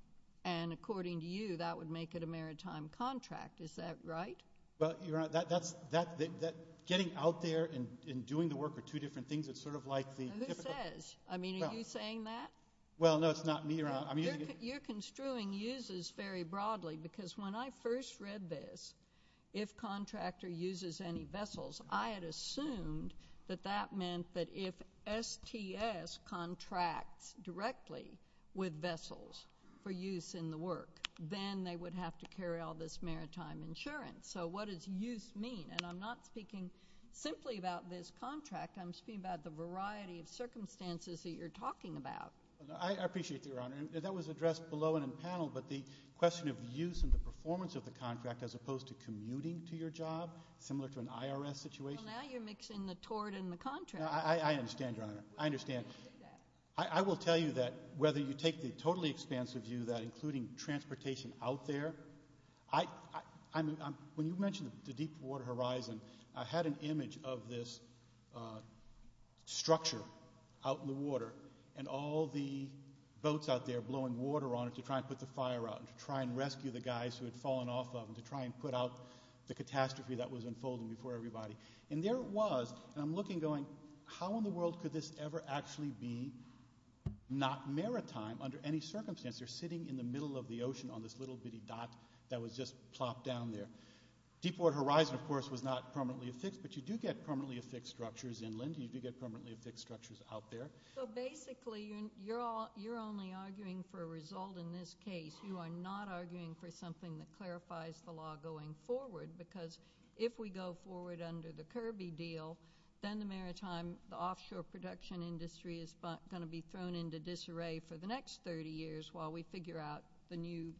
and according to you, that would make it a maritime contract. Is that right? Well, Your Honor, getting out there and doing the work are two different things. It's sort of like the typical. Who says? I mean, are you saying that? Well, no, it's not me, Your Honor. You're construing uses very broadly because when I first read this, if contractor uses any vessels, I had assumed that that meant that if STS contracts directly with vessels for use in the work, then they would have to carry all this maritime insurance. So what does use mean? And I'm not speaking simply about this contract. I'm speaking about the variety of circumstances that you're talking about. I appreciate that, Your Honor. That was addressed below in the panel, but the question of use and the performance of the contract as opposed to commuting to your job, similar to an IRS situation. Well, now you're mixing the tort and the contract. I understand, Your Honor. I understand. I will tell you that whether you take the totally expansive view that including transportation out there, when you mentioned the Deepwater Horizon, I had an image of this structure out in the water and all the boats out there blowing water on it to try and put the fire out and to try and rescue the guys who had fallen off of them, to try and put out the catastrophe that was unfolding before everybody. And there it was, and I'm looking going, how in the world could this ever actually be not maritime under any circumstance? They're sitting in the middle of the ocean on this little bitty dot that was just plopped down there. Deepwater Horizon, of course, was not permanently affixed, but you do get permanently affixed structures inland and you do get permanently affixed structures out there. So basically you're only arguing for a result in this case. You are not arguing for something that clarifies the law going forward because if we go forward under the Kirby deal, then the maritime, the offshore production industry, is going to be thrown into disarray for the next 30 years while we figure out the new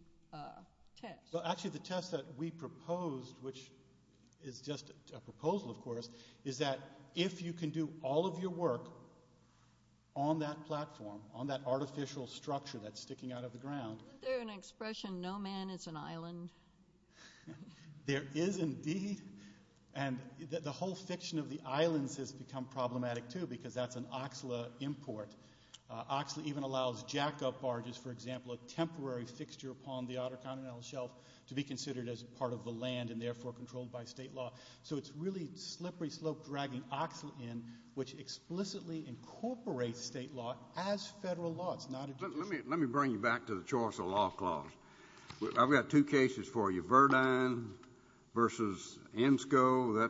test. Well, actually the test that we proposed, which is just a proposal, of course, is that if you can do all of your work on that platform, on that artificial structure that's sticking out of the ground. Isn't there an expression, no man is an island? There is indeed, and the whole fiction of the islands has become problematic too because that's an Oxley import. Oxley even allows jackup barges, for example, a temporary fixture upon the outer continental shelf to be considered as part of the land and therefore controlled by state law. So it's really slippery slope dragging Oxley in, which explicitly incorporates state law as federal law. Let me bring you back to the choice of law clause. I've got two cases for you, Verdine versus Enscoe,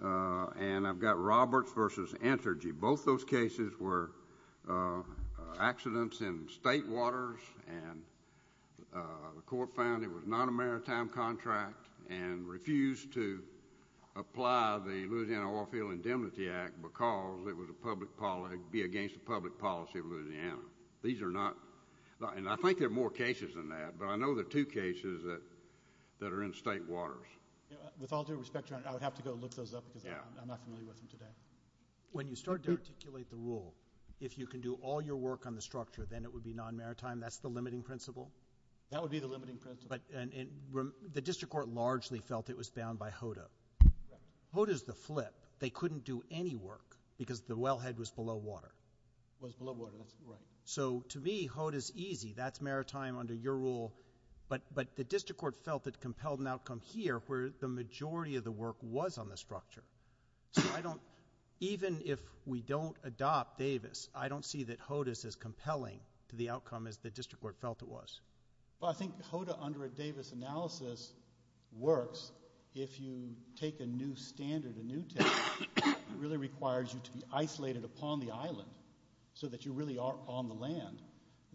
and I've got Roberts versus Entergy. Both those cases were accidents in state waters, and the court found it was not a maritime contract and refused to apply the Louisiana Oilfield Indemnity Act because it would be against the public policy of Louisiana. These are not, and I think there are more cases than that, but I know there are two cases that are in state waters. With all due respect, Your Honor, I would have to go look those up because I'm not familiar with them today. When you start to articulate the rule, if you can do all your work on the structure, then it would be non-maritime. That's the limiting principle? That would be the limiting principle. But the district court largely felt it was bound by HODA. HODA's the flip. They couldn't do any work because the wellhead was below water. It was below water. Right. So to me, HODA's easy. That's maritime under your rule. But the district court felt it compelled an outcome here where the majority of the work was on the structure. So I don't, even if we don't adopt Davis, I don't see that HODA's as compelling to the outcome as the district court felt it was. Well, I think HODA under a Davis analysis works. If you take a new standard, a new test, it really requires you to be isolated upon the island so that you really are on the land,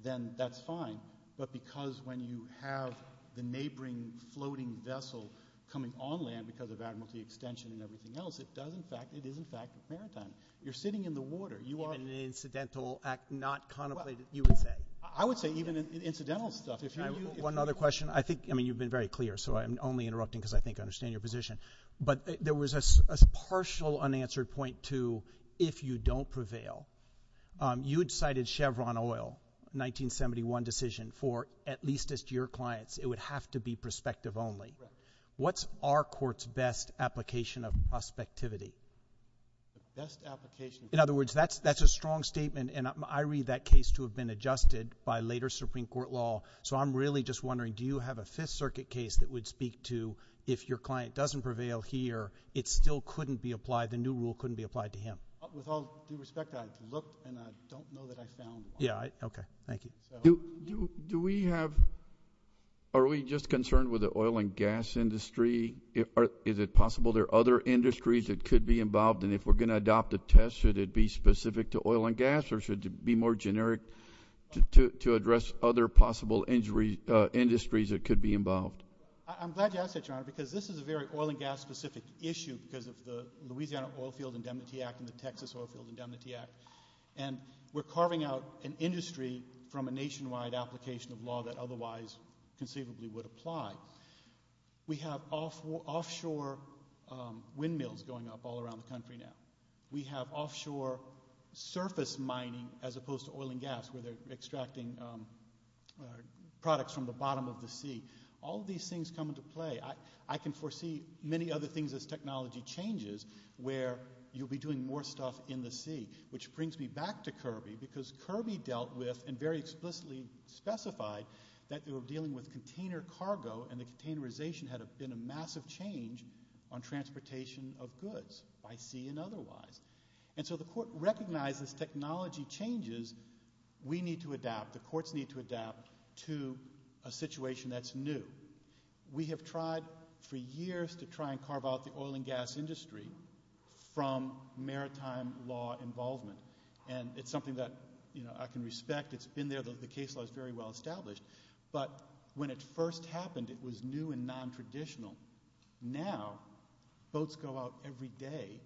then that's fine. But because when you have the neighboring floating vessel coming on land because of Admiralty Extension and everything else, it is, in fact, a maritime. You're sitting in the water. Even an incidental act not contemplated, you would say? I would say even incidental stuff. One other question. I think, I mean, you've been very clear, so I'm only interrupting because I think I understand your position. But there was a partial unanswered point to if you don't prevail. You had cited Chevron oil, 1971 decision, for at least as to your clients. It would have to be prospective only. What's our court's best application of prospectivity? The best application? In other words, that's a strong statement, and I read that case to have been adjusted by later Supreme Court law. So I'm really just wondering, do you have a Fifth Circuit case that would speak to if your client doesn't prevail here, it still couldn't be applied, the new rule couldn't be applied to him? With all due respect, I've looked, and I don't know that I found one. Okay. Thank you. Do we have, are we just concerned with the oil and gas industry? Is it possible there are other industries that could be involved? And if we're going to adopt a test, should it be specific to oil and gas, or should it be more generic to address other possible industries that could be involved? I'm glad you asked that, Your Honor, because this is a very oil and gas specific issue because of the Louisiana Oilfield Indemnity Act and the Texas Oilfield Indemnity Act, and we're carving out an industry from a nationwide application of law that otherwise conceivably would apply. We have offshore windmills going up all around the country now. We have offshore surface mining as opposed to oil and gas, where they're extracting products from the bottom of the sea. All these things come into play. I can foresee many other things as technology changes where you'll be doing more stuff in the sea, which brings me back to Kirby because Kirby dealt with and very explicitly specified that they were dealing with container cargo, and the containerization had been a massive change on transportation of goods by sea and otherwise. And so the Court recognizes technology changes. We need to adapt. The courts need to adapt to a situation that's new. We have tried for years to try and carve out the oil and gas industry from maritime law involvement, and it's something that I can respect. It's been there. The case law is very well established. But when it first happened, it was new and nontraditional. Now boats go out every day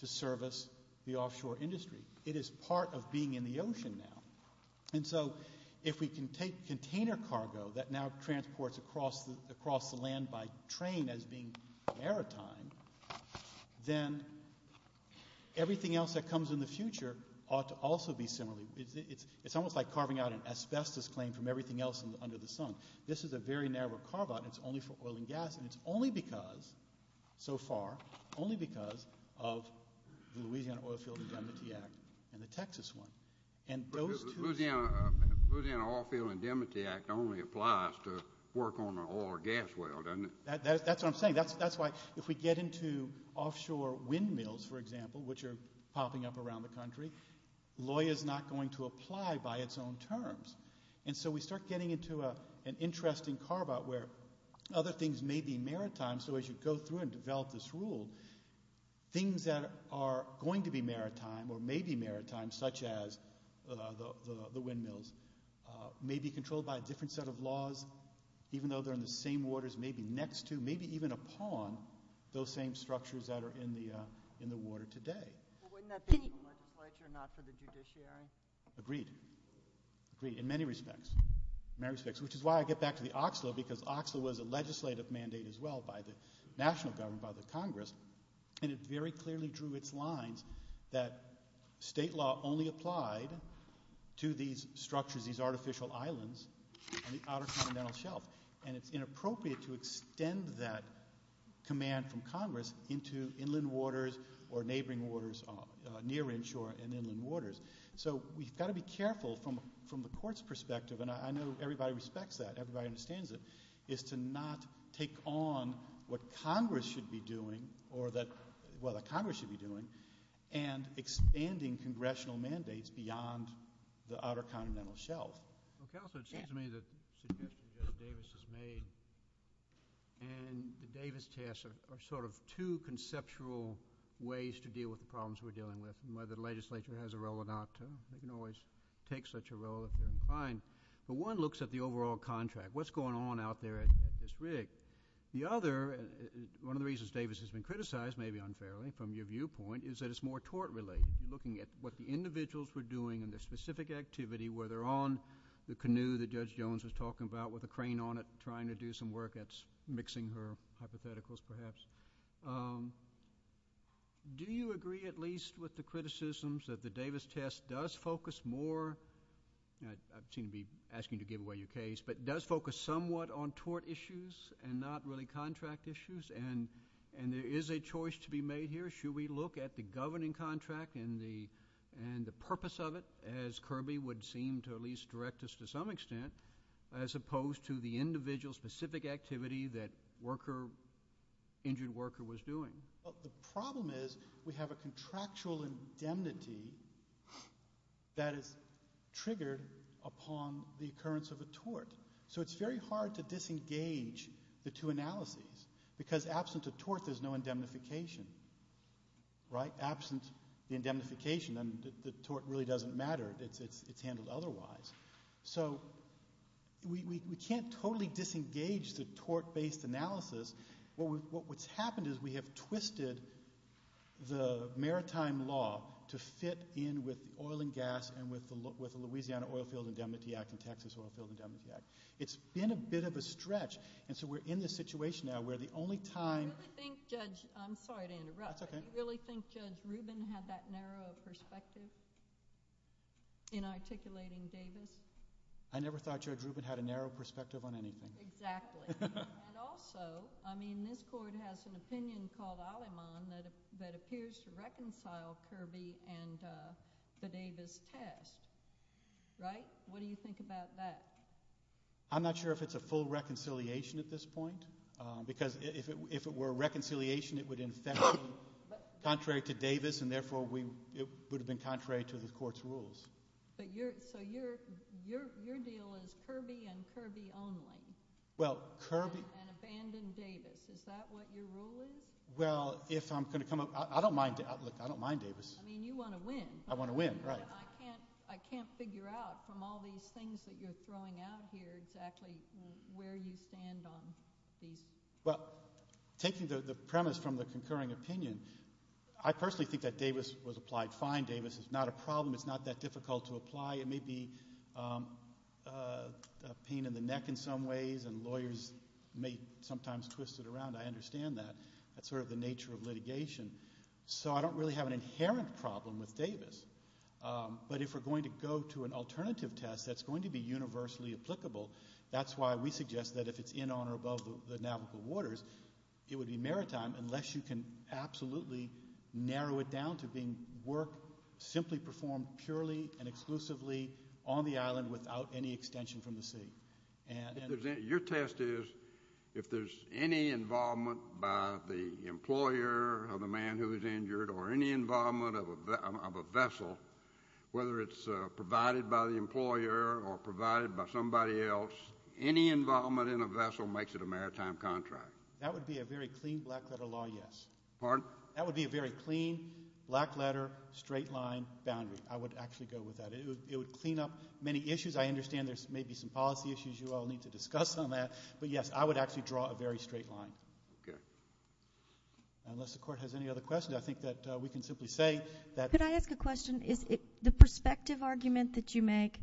to service the offshore industry. It is part of being in the ocean now. And so if we can take container cargo that now transports across the land by train as being maritime, then everything else that comes in the future ought to also be similarly. It's almost like carving out an asbestos claim from everything else under the sun. This is a very narrow carve-out, and it's only for oil and gas, and it's only because, so far, only because of the Louisiana Oil Field Indemnity Act and the Texas one. Louisiana Oil Field Indemnity Act only applies to work on an oil or gas well, doesn't it? That's what I'm saying. That's why if we get into offshore windmills, for example, which are popping up around the country, law is not going to apply by its own terms. And so we start getting into an interesting carve-out where other things may be maritime. So as you go through and develop this rule, things that are going to be maritime or may be maritime, such as the windmills, may be controlled by a different set of laws, even though they're in the same waters, maybe next to, maybe even upon those same structures that are in the water today. Wouldn't that be in the legislature, not for the judiciary? Agreed. Agreed in many respects, which is why I get back to the Oxlo, because Oxlo was a legislative mandate as well by the national government, by the Congress, and it very clearly drew its lines that state law only applied to these structures, these artificial islands on the outer continental shelf, and it's inappropriate to extend that command from Congress into inland waters or neighboring waters, near inshore and inland waters. So we've got to be careful from the court's perspective, and I know everybody respects that, everybody understands it, is to not take on what Congress should be doing or that, well, the Congress should be doing and expanding congressional mandates beyond the outer continental shelf. Well, Counselor, it seems to me that the suggestion that Davis has made and the Davis task are sort of two conceptual ways to deal with the problems we're dealing with and whether the legislature has a role or not. You can always take such a role if you're inclined, but one looks at the overall contract. What's going on out there at this rig? The other, one of the reasons Davis has been criticized, maybe unfairly from your viewpoint, is that it's more tort-related, looking at what the individuals were doing and their specific activity, whether on the canoe that Judge Jones was talking about with a crane on it trying to do some work that's mixing her hypotheticals perhaps. Do you agree at least with the criticisms that the Davis test does focus more, and I seem to be asking you to give away your case, but does focus somewhat on tort issues and not really contract issues? And there is a choice to be made here. Should we look at the governing contract and the purpose of it, as Kirby would seem to at least direct us to some extent, as opposed to the individual specific activity that worker, injured worker was doing? The problem is we have a contractual indemnity that is triggered upon the occurrence of a tort. So it's very hard to disengage the two analyses, because absent a tort there's no indemnification, right? Absent the indemnification, then the tort really doesn't matter. It's handled otherwise. So we can't totally disengage the tort-based analysis. What's happened is we have twisted the maritime law to fit in with oil and gas and with the Louisiana Oilfield Indemnity Act and Texas Oilfield Indemnity Act. It's been a bit of a stretch, and so we're in this situation now where the only time- Do you really think Judge Rubin had that narrow perspective in articulating Davis? I never thought Judge Rubin had a narrow perspective on anything. Exactly. And also, I mean, this court has an opinion called Aleman that appears to reconcile Kirby and the Davis test, right? What do you think about that? I'm not sure if it's a full reconciliation at this point, because if it were a reconciliation it would in effect be contrary to Davis, and therefore it would have been contrary to the court's rules. So your deal is Kirby and Kirby only? Well, Kirby- And abandon Davis. Is that what your rule is? Well, if I'm going to come up- I don't mind Davis. I mean, you want to win. I want to win, right. I can't figure out from all these things that you're throwing out here exactly where you stand on these- Well, taking the premise from the concurring opinion, I personally think that Davis was applied fine. Davis is not a problem. It's not that difficult to apply. It may be a pain in the neck in some ways, and lawyers may sometimes twist it around. I understand that. That's sort of the nature of litigation. So I don't really have an inherent problem with Davis. But if we're going to go to an alternative test that's going to be universally applicable, that's why we suggest that if it's in, on, or above the navigable waters, it would be maritime unless you can absolutely narrow it down to being work simply performed purely and exclusively on the island without any extension from the sea. Your test is if there's any involvement by the employer of the man who is injured or any involvement of a vessel, whether it's provided by the employer or provided by somebody else, any involvement in a vessel makes it a maritime contract. That would be a very clean black-letter law, yes. Pardon? That would be a very clean, black-letter, straight-line boundary. I would actually go with that. It would clean up many issues. I understand there may be some policy issues you all need to discuss on that. But, yes, I would actually draw a very straight line. Okay. Unless the Court has any other questions, I think that we can simply say that- Could I ask a question? The perspective argument that you make,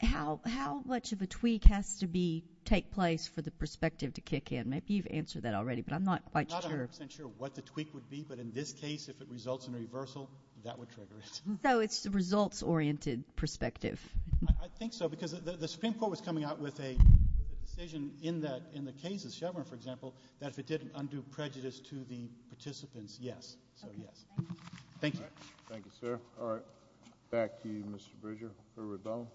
how much of a tweak has to take place for the perspective to kick in? Maybe you've answered that already, but I'm not quite sure. I'm not 100 percent sure what the tweak would be, but in this case, if it results in a reversal, that would trigger it. So it's a results-oriented perspective. I think so because the Supreme Court was coming out with a decision in the case of Chevron, for example, that if it didn't undo prejudice to the participants, yes. So, yes. Thank you. All right. Thank you, sir. All right. Back to you, Mr. Bridger. Mr. Rebellin.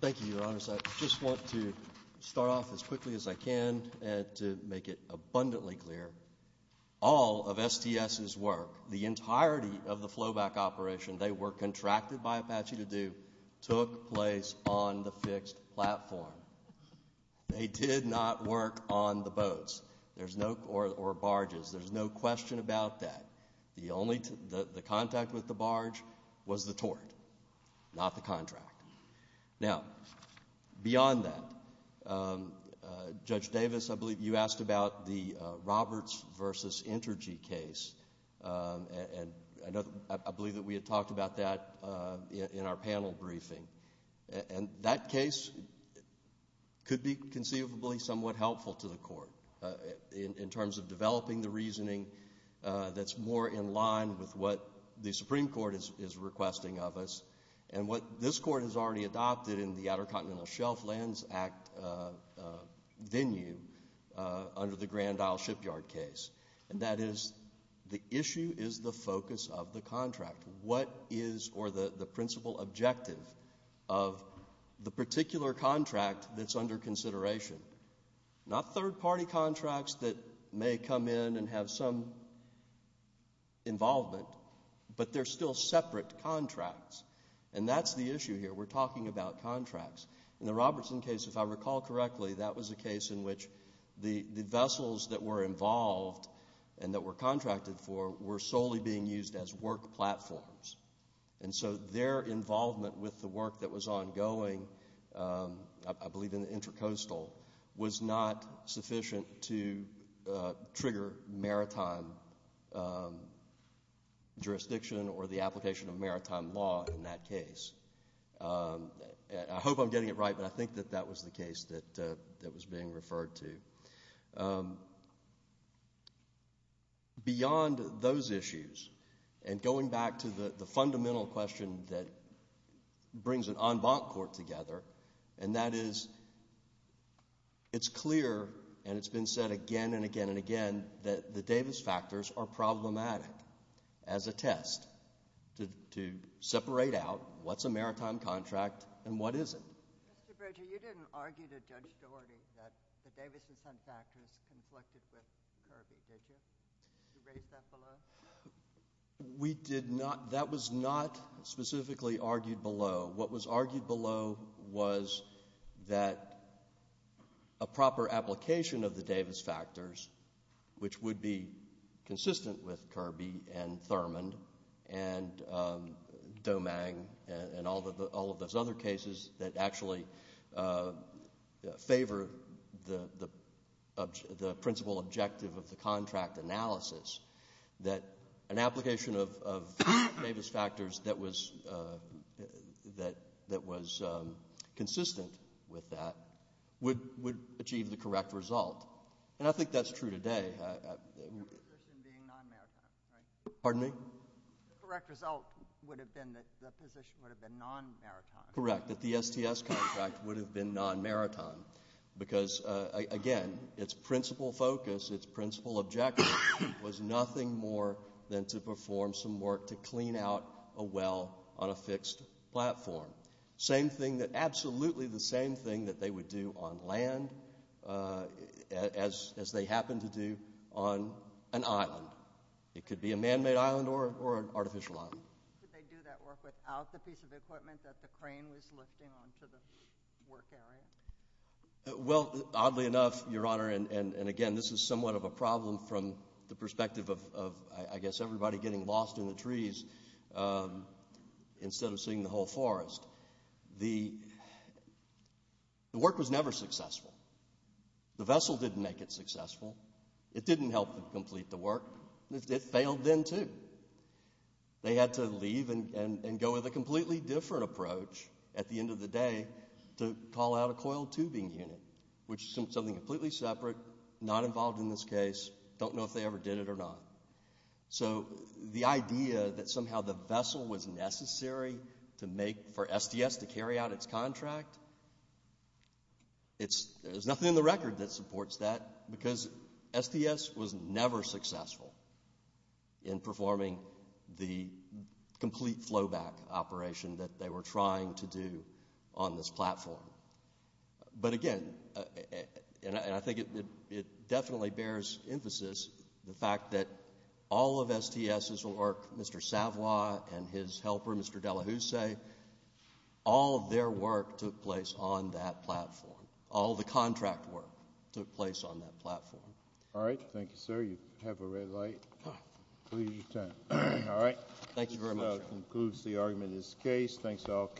Thank you, Your Honors. I just want to start off as quickly as I can to make it abundantly clear. All of STS's work, the entirety of the flowback operation, they were contracted by Apache to do, took place on the fixed platform. They did not work on the boats or barges. There's no question about that. The contact with the barge was the tort, not the contract. Now, beyond that, Judge Davis, I believe you asked about the Roberts versus Entergy case, and I believe that we had talked about that in our panel briefing, and that case could be conceivably somewhat helpful to the Court in terms of developing the reasoning that's more in line with what the Supreme Court is requesting of us, and what this Court has already adopted in the Outer Continental Shelf Lands Act venue under the Grand Isle Shipyard case, and that is the issue is the focus of the contract. What is, or the principal objective of the particular contract that's under consideration? Not third-party contracts that may come in and have some involvement, but they're still separate contracts, and that's the issue here. We're talking about contracts. In the Robertson case, if I recall correctly, that was a case in which the vessels that were involved and that were contracted for were solely being used as work platforms, and so their involvement with the work that was ongoing, I believe in the Intracoastal, was not sufficient to trigger maritime jurisdiction or the application of maritime law in that case. I hope I'm getting it right, but I think that that was the case that was being referred to. Beyond those issues, and going back to the fundamental question that brings an en banc court together, and that is it's clear, and it's been said again and again and again, that the Davis factors are problematic as a test to separate out what's a maritime contract and what isn't. Mr. Berger, you didn't argue to Judge Dougherty that the Davis factors conflicted with Kirby, did you? Did you raise that below? We did not. That was not specifically argued below. What was argued below was that a proper application of the Davis factors, which would be consistent with Kirby and Thurmond and Domang and all of those other cases that actually favor the principal objective of the contract analysis, that an application of Davis factors that was consistent with that would achieve the correct result. And I think that's true today. The position being non-maritime, right? Pardon me? The correct result would have been that the position would have been non-maritime. Correct, that the STS contract would have been non-maritime because, again, its principal focus, its principal objective, was nothing more than to perform some work to clean out a well on a fixed platform. Absolutely the same thing that they would do on land as they happen to do on an island. It could be a man-made island or an artificial island. Could they do that work without the piece of equipment that the crane was lifting onto the work area? Well, oddly enough, Your Honor, and again, this is somewhat of a problem from the perspective of, I guess, everybody getting lost in the trees instead of seeing the whole forest. The work was never successful. The vessel didn't make it successful. It didn't help them complete the work. It failed them too. They had to leave and go with a completely different approach at the end of the day to call out a coil tubing unit, which is something completely separate, not involved in this case, don't know if they ever did it or not. So the idea that somehow the vessel was necessary for STS to carry out its contract, there's nothing in the record that supports that because STS was never successful in performing the complete flowback operation that they were trying to do on this platform. But again, and I think it definitely bears emphasis, the fact that all of STS's work, Mr. Savoy and his helper, Mr. De La Houssay, all of their work took place on that platform. All of the contract work took place on that platform. All right. Thank you, sir. You have a red light. Please return. All right. Thank you very much. This concludes the argument in this case. Thanks to all candidates.